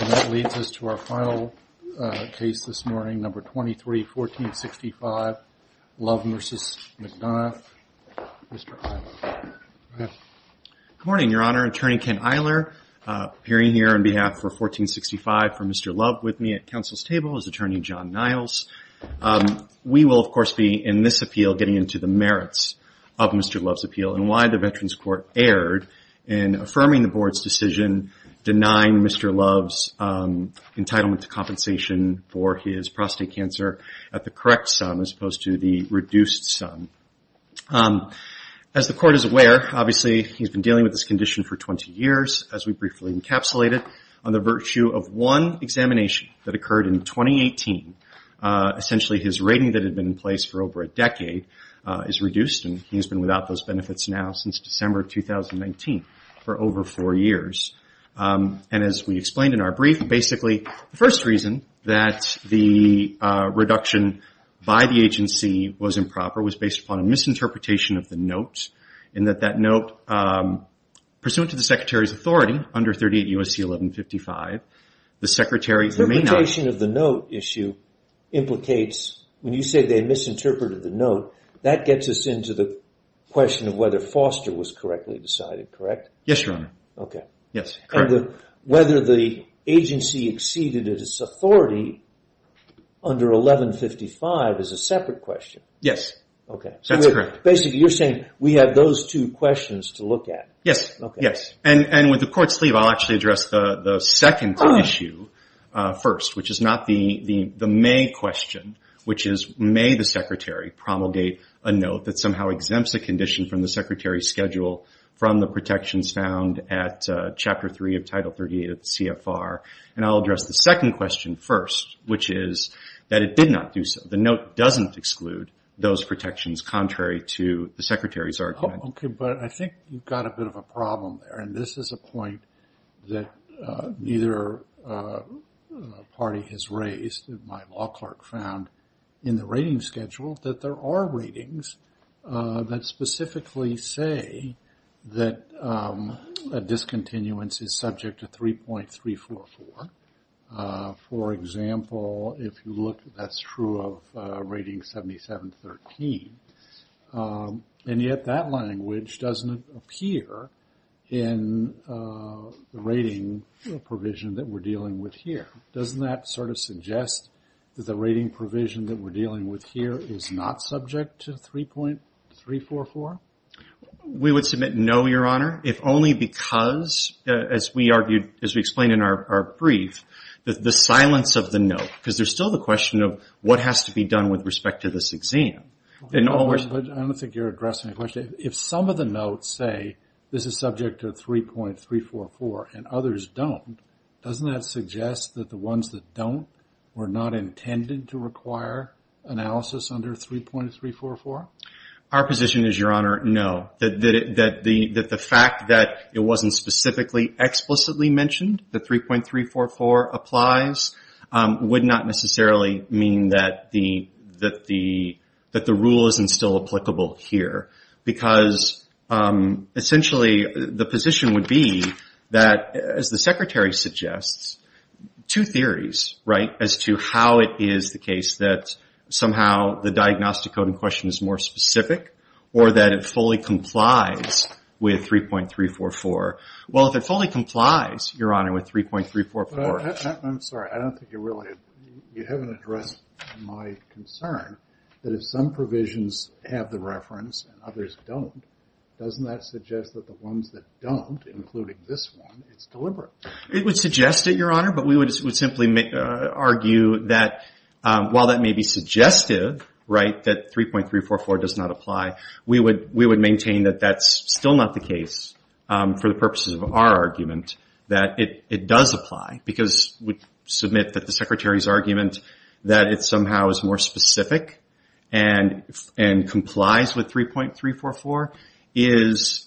And that leads us to our final case this morning, number 23, 1465, Love v. McDonough. Mr. Eiler, go ahead. Good morning, Your Honor. Attorney Ken Eiler appearing here on behalf of 1465 for Mr. Love with me at counsel's table is Attorney John Niles. We will, of course, be in this appeal getting into the merits of Mr. Love's appeal and why the Veterans Court erred in affirming the board's decision denying Mr. Love's entitlement to compensation for his prostate cancer at the correct sum as opposed to the reduced sum. As the Court is aware, obviously, he's been dealing with this condition for 20 years, as we briefly encapsulated, on the virtue of one examination that occurred in 2018. Essentially, his rating that had been in place for over a decade is reduced, and he's been without those benefits now since December of 2019 for over four years. And as we explained in our brief, basically, the first reason that the reduction by the agency was improper was based upon a misinterpretation of the note, in that that note, pursuant to the Secretary's authority under 38 U.S.C. 1155, the Secretary may not... The misinterpretation of the note issue implicates, when you say they misinterpreted the note, that gets us into the question of whether Foster was correctly decided, correct? Yes, Your Honor. Okay. Yes, correct. And whether the agency exceeded its authority under 1155 is a separate question. Yes. Okay. That's correct. Basically, you're saying we have those two questions to look at. Yes. Okay. Yes. And with the court's leave, I'll actually address the second issue first, which is not the may question, which is, may the Secretary promulgate a note that somehow exempts a condition from the Secretary's schedule from the protections found at Chapter 3 of Title 38 of the CFR? And I'll address the second question first, which is that it did not do so. The note doesn't exclude those protections, contrary to the Secretary's argument. Okay. But I think you've got a bit of a problem there, and this is a point that neither party has raised. My law clerk found in the rating schedule that there are ratings that specifically say that a discontinuance is subject to 3.344. For example, if you look, that's true of Rating 7713. And yet that language doesn't appear in the rating provision that we're dealing with here. Doesn't that sort of suggest that the rating provision that we're dealing with here is not subject to 3.344? We would submit no, Your Honor, if only because, as we explained in our brief, the silence of the note. Because there's still the question of what has to be done with respect to this exam. I don't think you're addressing the question. If some of the notes say this is subject to 3.344 and others don't, doesn't that suggest that the ones that don't were not intended to require analysis under 3.344? Our position is, Your Honor, no. That the fact that it wasn't specifically explicitly mentioned, that 3.344 applies, would not necessarily mean that the rule isn't still applicable here. Because essentially the position would be that, as the Secretary suggests, two theories as to how it is the case that somehow the diagnostic coding question is more specific or that it fully complies with 3.344. Well, if it fully complies, Your Honor, with 3.344. I'm sorry, I don't think you really, you haven't addressed my concern that if some provisions have the reference and others don't, doesn't that suggest that the ones that don't, including this one, it's deliberate? It would suggest it, Your Honor, but we would simply argue that while that may be suggestive, right, that 3.344 does not apply, we would maintain that that's still not the case for the purposes of our argument, that it does apply. Because we submit that the Secretary's argument that it somehow is more specific and complies with 3.344 is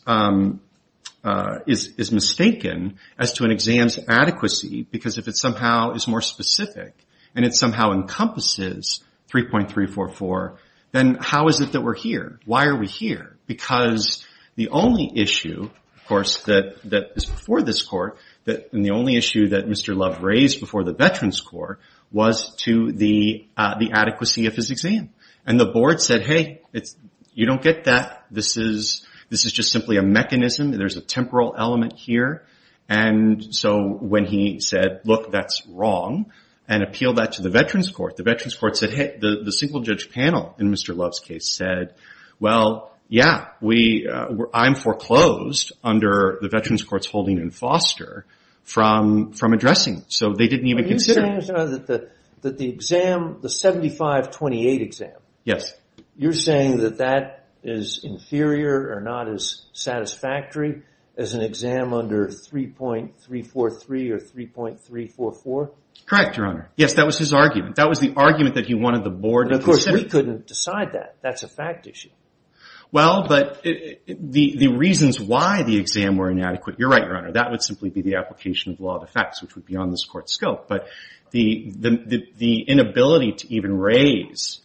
mistaken as to an exam's adequacy. Because if it somehow is more specific and it somehow encompasses 3.344, then how is it that we're here? Why are we here? Because the only issue, of course, that is before this Court, and the only issue that Mr. Love raised before the Veterans Court, was to the adequacy of his exam. And the Board said, hey, you don't get that. This is just simply a mechanism. There's a temporal element here. And so when he said, look, that's wrong, and appealed that to the Veterans Court, the Veterans Court said, hey, the single-judge panel in Mr. Love's case said, well, yeah, I'm foreclosed under the Veterans Court's holding in Foster from addressing. So they didn't even consider it. The 75-28 exam, you're saying that that is inferior or not as satisfactory as an exam under 3.343 or 3.344? Correct, Your Honor. Yes, that was his argument. That was the argument that he wanted the Board to consider. But of course, we couldn't decide that. That's a fact issue. Well, but the reasons why the exam were inadequate, you're right, Your Honor, that would simply be the application of law of effects, which would be on this Court's scope. But the inability to even raise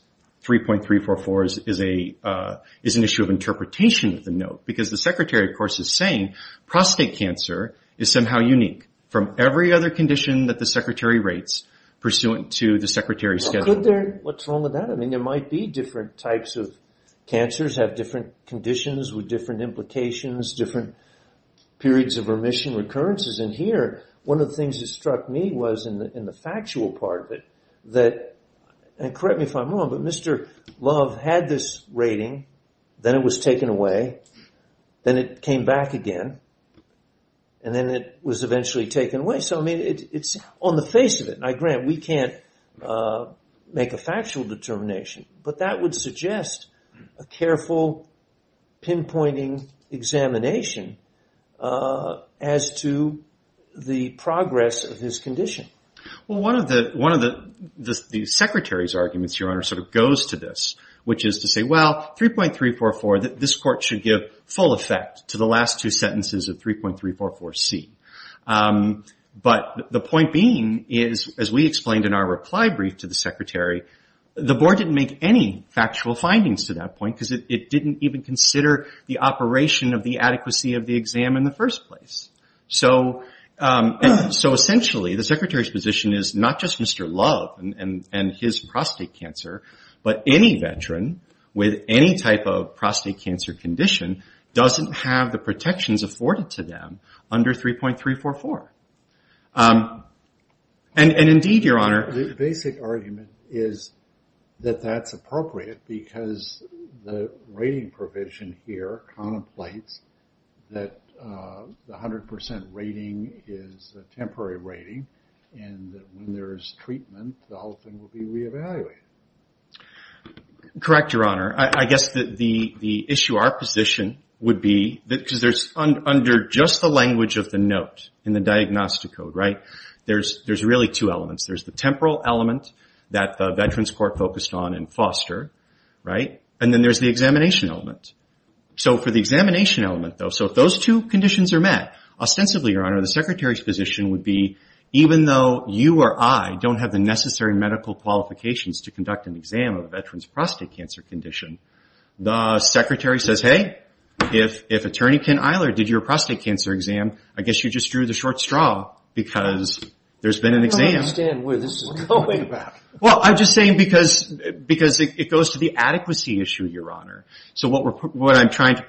3.344 is an issue of interpretation of the note. Because the Secretary, of course, is saying prostate cancer is somehow unique from every other condition that the Secretary rates pursuant to the Secretary's schedule. What's wrong with that? I mean, there might be different types of cancers, have different conditions with different implications, different periods of remission, recurrences. And here, one of the things that struck me was in the factual part of it that, and correct me if I'm wrong, but Mr. Love had this rating, then it was taken away, then it came back again, and then it was eventually taken away. So, I mean, it's on the face of it. I grant we can't make a factual determination, but that would suggest a careful pinpointing examination as to the progress of his condition. Well, one of the Secretary's arguments, Your Honor, sort of goes to this, which is to say, well, 3.344, this Court should give full effect to the last two sentences of 3.344C. But the point being is, as we explained in our reply brief to the Secretary, the Board didn't make any factual findings to that point because it didn't even consider the operation of the adequacy of the exam in the first place. So, essentially, the Secretary's position is not just Mr. Love and his prostate cancer, but any veteran with any type of prostate cancer condition doesn't have the protections afforded to them under 3.344. The basic argument is that that's appropriate because the rating provision here contemplates that the 100% rating is a temporary rating, and that when there is treatment, the whole thing will be reevaluated. Correct, Your Honor. I guess the issue, our position would be, because there's under just the language of the note in the diagnostic code, right, there's really two elements. There's the temporal element that the Veterans Court focused on in Foster, right, and then there's the examination element. So, for the examination element, though, so if those two conditions are met, ostensibly, Your Honor, the Secretary's position would be, even though you or I don't have the necessary medical qualifications to conduct an exam of a veteran's prostate cancer condition, the Secretary says, hey, if Attorney Ken Iler did your prostate cancer exam, I guess you just drew the short straw because there's been an exam. I don't understand where this is going. Well, I'm just saying because it goes to the adequacy issue, Your Honor. Why on its face,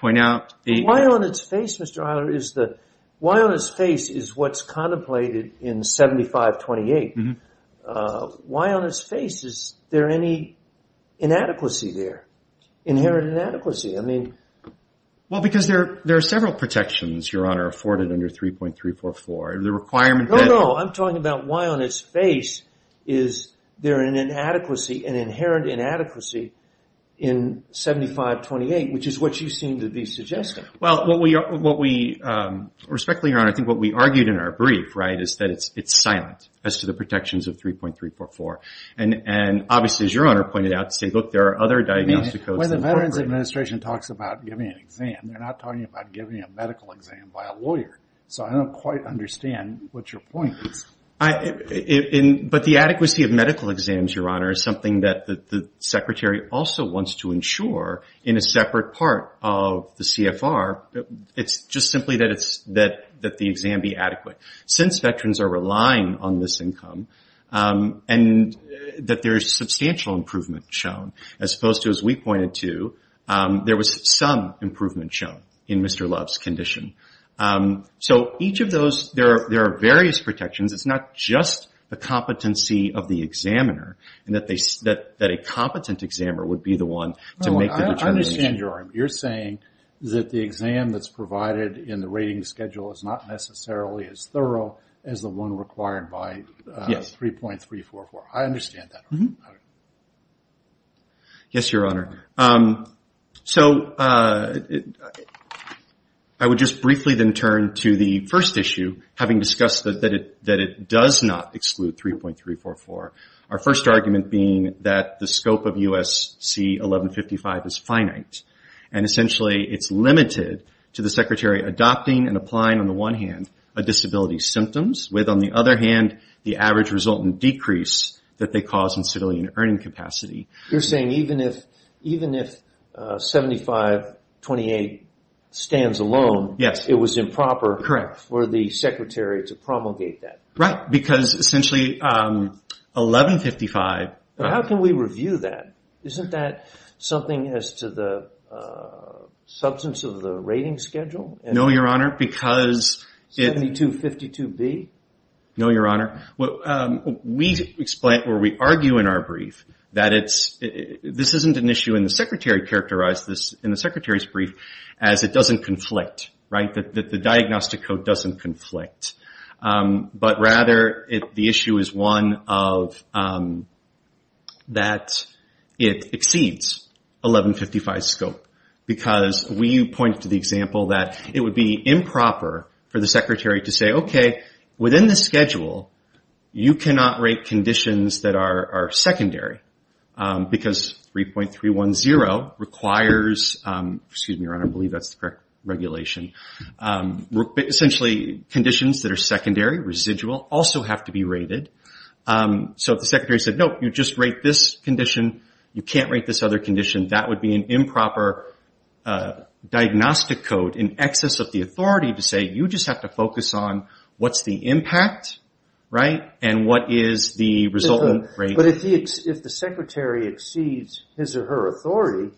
Mr. Iler, is what's contemplated in 7528, why on its face is there any inadequacy there, inherent inadequacy? Well, because there are several protections, Your Honor, afforded under 3.344. No, no, I'm talking about why on its face is there an inadequacy, an inherent inadequacy in 7528, which is what you seem to be suggesting. Well, what we, respectfully, Your Honor, I think what we argued in our brief, right, is that it's silent as to the protections of 3.344. And obviously, as Your Honor pointed out, say, look, there are other diagnostic codes. When the Veterans Administration talks about giving an exam, they're not talking about giving a medical exam by a lawyer. So I don't quite understand what your point is. But the adequacy of medical exams, Your Honor, is something that the Secretary also wants to ensure in a separate part of the CFR. It's just simply that the exam be adequate. Since Veterans are relying on this income and that there is substantial improvement shown, as opposed to, as we pointed to, there was some improvement shown in Mr. Love's condition. So each of those, there are various protections. It's not just the competency of the examiner, that a competent examiner would be the one to make the determination. I understand, Your Honor. You're saying that the exam that's provided in the rating schedule is not necessarily as thorough as the one required by 3.344. I understand that. Yes, Your Honor. So I would just briefly then turn to the first issue, having discussed that it does not exclude 3.344. Our first argument being that the scope of USC 1155 is finite. And essentially it's limited to the Secretary adopting and applying, on the one hand, a disability's symptoms, with, on the other hand, the average resultant decrease that they cause in civilian earning capacity. You're saying even if 7528 stands alone, it was improper for the Secretary to promulgate that? Right, because essentially 1155... How can we review that? Isn't that something as to the substance of the rating schedule? No, Your Honor, because... 7252B? No, Your Honor. We argue in our brief that this isn't an issue, and the Secretary characterized this in the Secretary's brief, as it doesn't conflict, right? That the diagnostic code doesn't conflict. But rather, the issue is one of that it exceeds 1155's scope. Because we point to the example that it would be improper for the Secretary to say, okay, within the schedule, you cannot rate conditions that are secondary. Because 3.310 requires... Excuse me, Your Honor, I believe that's the correct regulation. Essentially, conditions that are secondary, residual, also have to be rated. So if the Secretary said, no, you just rate this condition, you can't rate this other condition, that would be an improper diagnostic code, in excess of the authority to say you just have to focus on what's the impact, right, and what is the resultant rate. But if the Secretary exceeds his or her authority,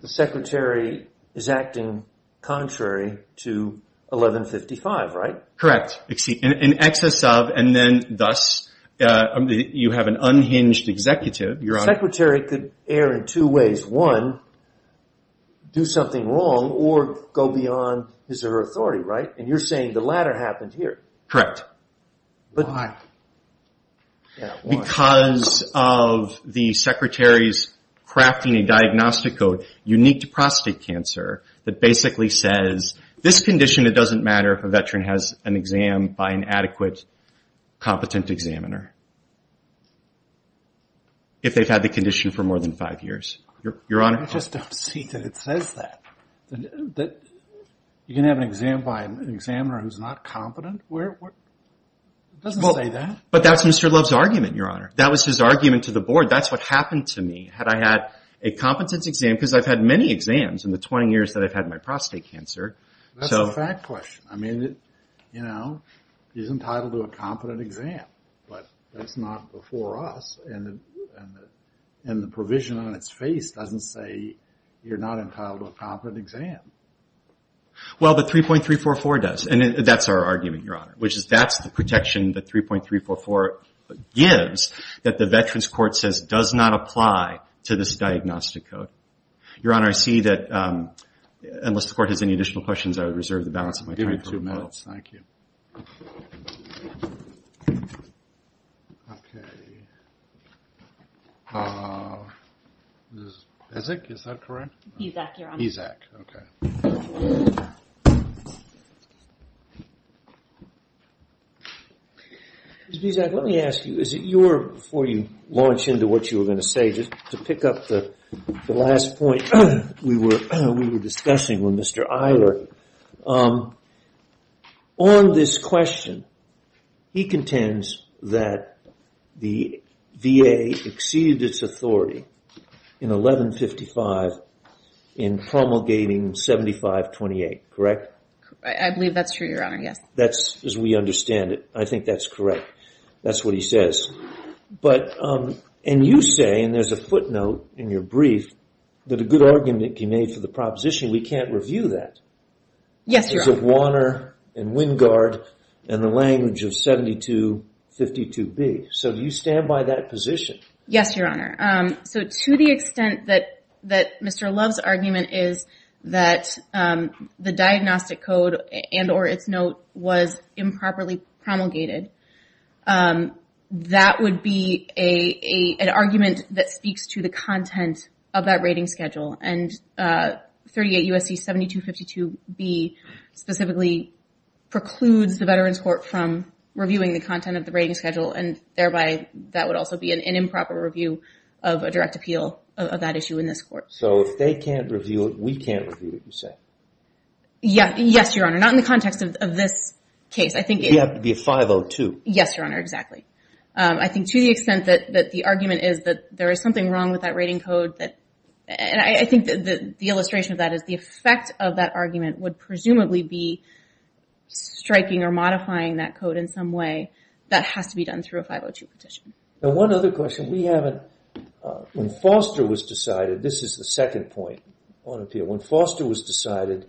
the Secretary is acting contrary to 1155, right? Correct. In excess of, and then thus, you have an unhinged executive, Your Honor. The Secretary could err in two ways. One, do something wrong, or go beyond his or her authority, right? And you're saying the latter happened here. Correct. Why? Because of the Secretary's crafting a diagnostic code unique to prostate cancer that basically says, this condition, it doesn't matter if a veteran has an exam by an adequate, competent examiner. If they've had the condition for more than five years. I just don't see that it says that. You can have an exam by an examiner who's not competent? It doesn't say that. But that's Mr. Love's argument, Your Honor. That was his argument to the Board. That's what happened to me. Had I had a competent exam, because I've had many exams in the 20 years that I've had my prostate cancer. That's a fact question. I mean, you know, he's entitled to a competent exam. But that's not before us. And the provision on its face doesn't say you're not entitled to a competent exam. Well, the 3.344 does. And that's our argument, Your Honor. Which is, that's the protection that 3.344 gives that the Veterans Court says does not apply to this diagnostic code. Your Honor, I see that, unless the Court has any additional questions, I would reserve the balance of my time. Give me two minutes. Thank you. Okay. Is it, is that correct? BZAC, Your Honor. BZAC, okay. Ms. BZAC, let me ask you, is it your, before you launch into what you were going to say, just to pick up the last point we were discussing with Mr. Iler. On this question, he contends that the VA exceeded its authority in 1155 in promulgating 7528, correct? I believe that's true, Your Honor, yes. That's, as we understand it, I think that's correct. That's what he says. But, and you say, and there's a footnote in your brief, that a good argument can be made for the proposition. We can't review that. Yes, Your Honor. Because of Warner and Wingard and the language of 7252B. So do you stand by that position? Yes, Your Honor. So to the extent that Mr. Love's argument is that the diagnostic code and or its note was improperly promulgated, that would be an argument that speaks to the content of that rating schedule. And 38 U.S.C. 7252B specifically precludes the Veterans Court from reviewing the content of the rating schedule, and thereby that would also be an improper review of a direct appeal of that issue in this court. So if they can't review it, we can't review it, you say? Yes, Your Honor. Not in the context of this case. We have to be 502. Yes, Your Honor, exactly. I think to the extent that the argument is that there is something wrong with that rating code, and I think the illustration of that is the effect of that argument would presumably be striking or modifying that code in some way. That has to be done through a 502 petition. Now one other question. We haven't, when Foster was decided, this is the second point on appeal. When Foster was decided,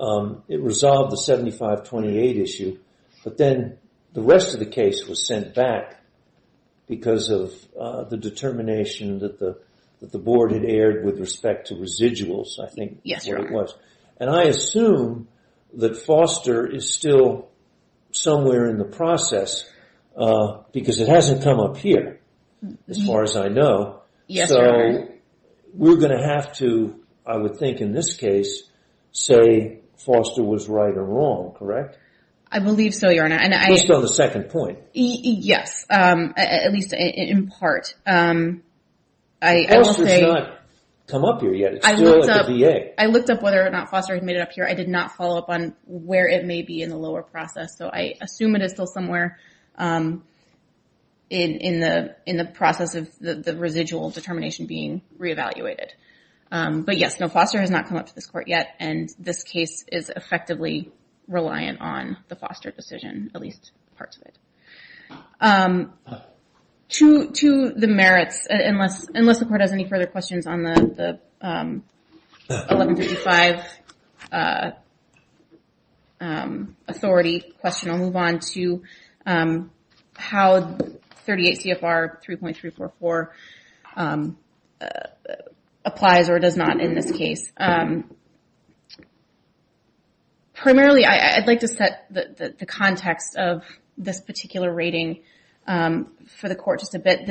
it resolved the 7528 issue, but then the rest of the case was sent back because of the determination that the board had aired with respect to residuals, I think. Yes, Your Honor. And I assume that Foster is still somewhere in the process because it hasn't come up here, as far as I know. Yes, Your Honor. So we're going to have to, I would think in this case, say Foster was right or wrong, correct? I believe so, Your Honor. Just on the second point. Yes, at least in part. Foster has not come up here yet. It's still at the VA. I looked up whether or not Foster had made it up here. I did not follow up on where it may be in the lower process, so I assume it is still somewhere in the process of the residual determination being re-evaluated. But yes, no, Foster has not come up to this court yet, and this case is effectively reliant on the Foster decision, at least parts of it. To the merits, unless the court has any further questions on the 1135 authority question, I'll move on to how 38 CFR 3.344 applies or does not in this case. Primarily, I'd like to set the context of this particular rating for the court just a bit.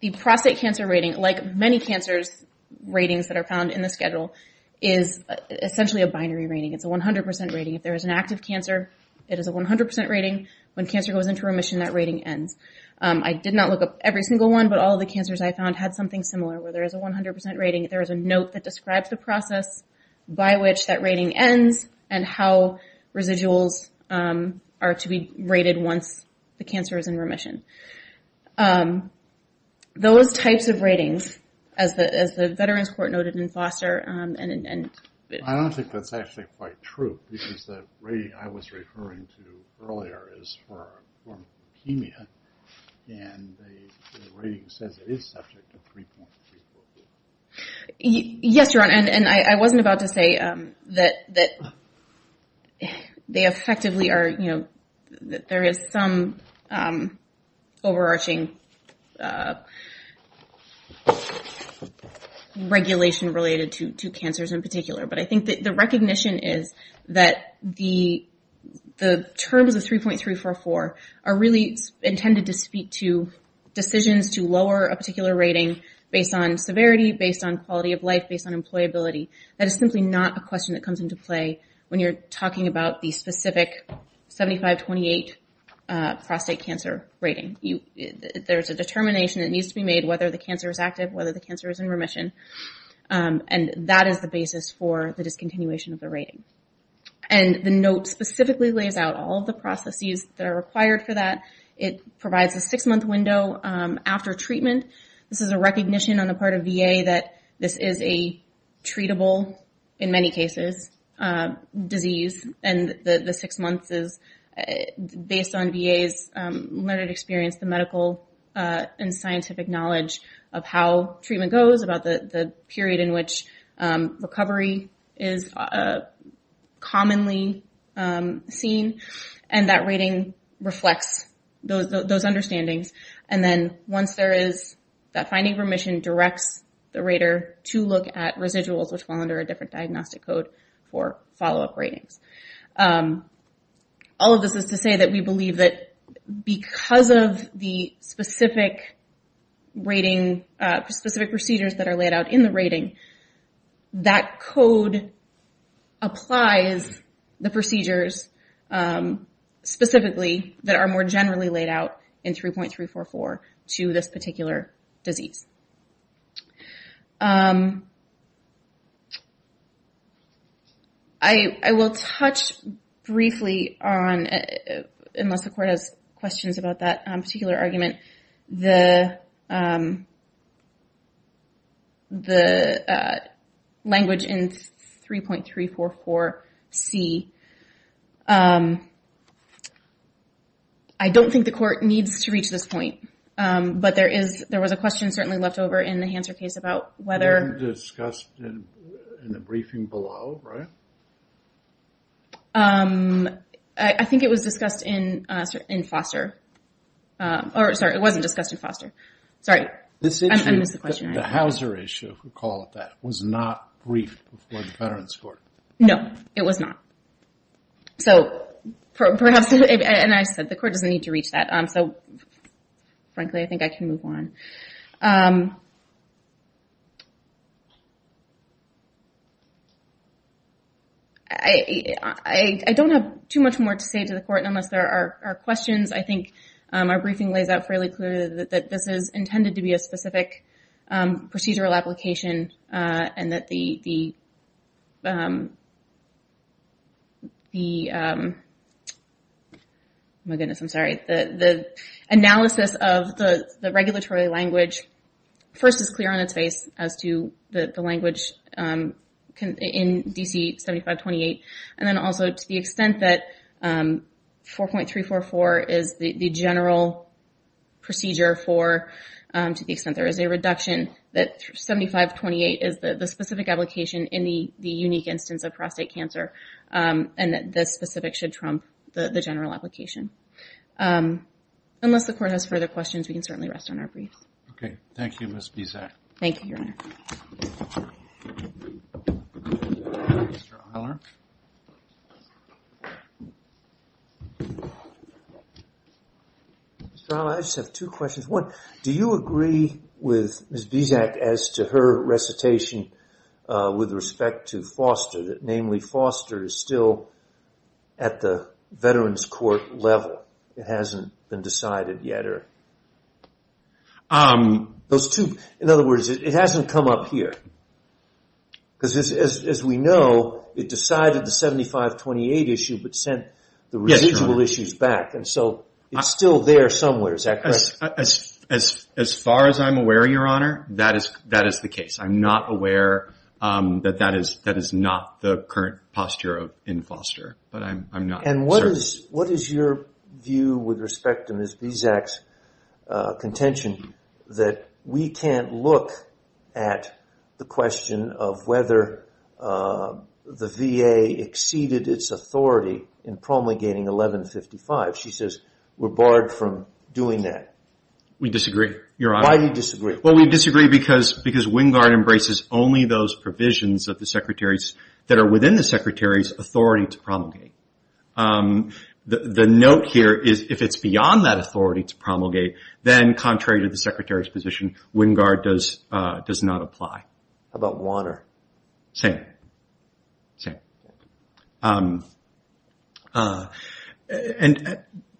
The prostate cancer rating, like many cancers' ratings that are found in the schedule, is essentially a binary rating. It's a 100% rating. If there is an active cancer, it is a 100% rating. When cancer goes into remission, that rating ends. I did not look up every single one, but all of the cancers I found had something similar, where there is a 100% rating. There is a note that describes the process by which that rating ends and how residuals are to be rated once the cancer is in remission. Those types of ratings, as the Veterans Court noted in Foster, and in- I don't think that's actually quite true, because the rating I was referring to earlier is for leukemia, and the rating says it is subject to 3.344. Yes, Your Honor, and I wasn't about to say that there is some overarching regulation related to cancers in particular, but I think the recognition is that the terms of 3.344 are really intended to speak to decisions to lower a particular rating based on severity, based on quality of life, based on employability. That is simply not a question that comes into play when you're talking about the specific 75-28 prostate cancer rating. There is a determination that needs to be made whether the cancer is active, whether the cancer is in remission, and that is the basis for the discontinuation of the rating. The note specifically lays out all of the processes that are required for that. It provides a six-month window after treatment. This is a recognition on the part of VA that this is a treatable, in many cases, disease, and the six months is based on VA's learned experience, the medical and scientific knowledge of how treatment goes, about the period in which recovery is commonly seen, and that rating reflects those understandings. Then once there is that finding remission, it directs the rater to look at residuals, which fall under a different diagnostic code for follow-up ratings. All of this is to say that we believe that because of the specific procedures that are laid out in the rating, that code applies the procedures specifically that are more generally laid out in 3.344 to this particular disease. I will touch briefly on, unless the court has questions about that particular argument, the language in 3.344C. I don't think the court needs to reach this point, but there was a question certainly left over in the Hanser case about whether... It wasn't discussed in the briefing below, right? I think it was discussed in Foster. Sorry, it wasn't discussed in Foster. Sorry, I missed the question. The Hauser issue, if we call it that, was not briefed before the Veterans Court. No, it was not. Perhaps, and I said the court doesn't need to reach that. Frankly, I think I can move on. I don't have too much more to say to the court, and unless there are questions, I think our briefing lays out fairly clearly that this is intended to be a specific procedural application, and that the analysis of the regulatory language first is clear on its face as to the language in D.C. 7528. And then also, to the extent that 4.344 is the general procedure for, to the extent there is a reduction, that 7528 is the specific application in the unique instance of prostate cancer, and that this specific should trump the general application. Unless the court has further questions, we can certainly rest on our briefs. Okay, thank you, Ms. Bisak. Thank you, Your Honor. Mr. Eiler? Mr. Eiler, I just have two questions. One, do you agree with Ms. Bisak as to her recitation with respect to Foster, that namely Foster is still at the Veterans Court level? It hasn't been decided yet? In other words, it hasn't come up here? Because as we know, it decided the 7528 issue but sent the residual issues back, and so it's still there somewhere, is that correct? As far as I'm aware, Your Honor, that is the case. I'm not aware that that is not the current posture in Foster, but I'm not certain. And what is your view with respect to Ms. Bisak's contention that we can't look at the question of whether the VA exceeded its authority in promulgating 1155? She says we're barred from doing that. We disagree, Your Honor. Why do you disagree? Well, we disagree because Wingard embraces only those provisions of the Secretary's, that are within the Secretary's authority to promulgate. The note here is if it's beyond that authority to promulgate, then contrary to the Secretary's position, Wingard does not apply. How about Warner? Same.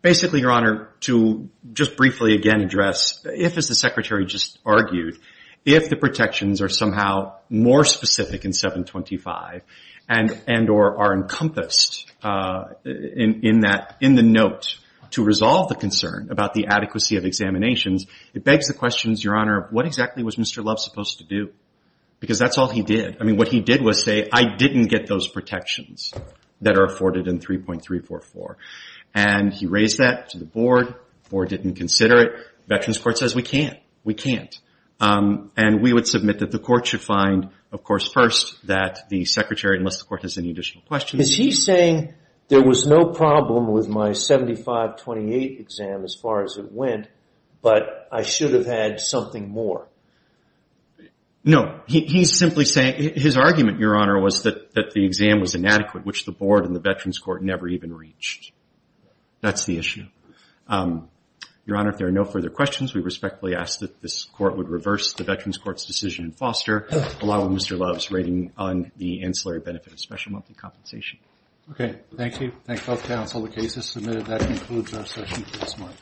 Basically, Your Honor, to just briefly again address, if, as the Secretary just argued, if the protections are somehow more specific in 725 and are encompassed in the note to resolve the concern about the adequacy of examinations, it begs the questions, Your Honor, what exactly was Mr. Love supposed to do? Because that's all he did. I mean, what he did was say, I didn't get those protections that are afforded in 3.344. And he raised that to the Board. The Board didn't consider it. Veterans Court says we can't. We can't. And we would submit that the Court should find, of course, first, that the Secretary, unless the Court has any additional questions. Is he saying there was no problem with my 7528 exam as far as it went, but I should have had something more? No. He's simply saying his argument, Your Honor, was that the exam was inadequate, which the Board and the Veterans Court never even reached. That's the issue. Your Honor, if there are no further questions, we respectfully ask that this Court would reverse the Veterans Court's decision in Foster along with Mr. Love's rating on the ancillary benefit of special monthly compensation. Okay. Thank you. Thank both counsel. The case is submitted. That concludes our session for this month.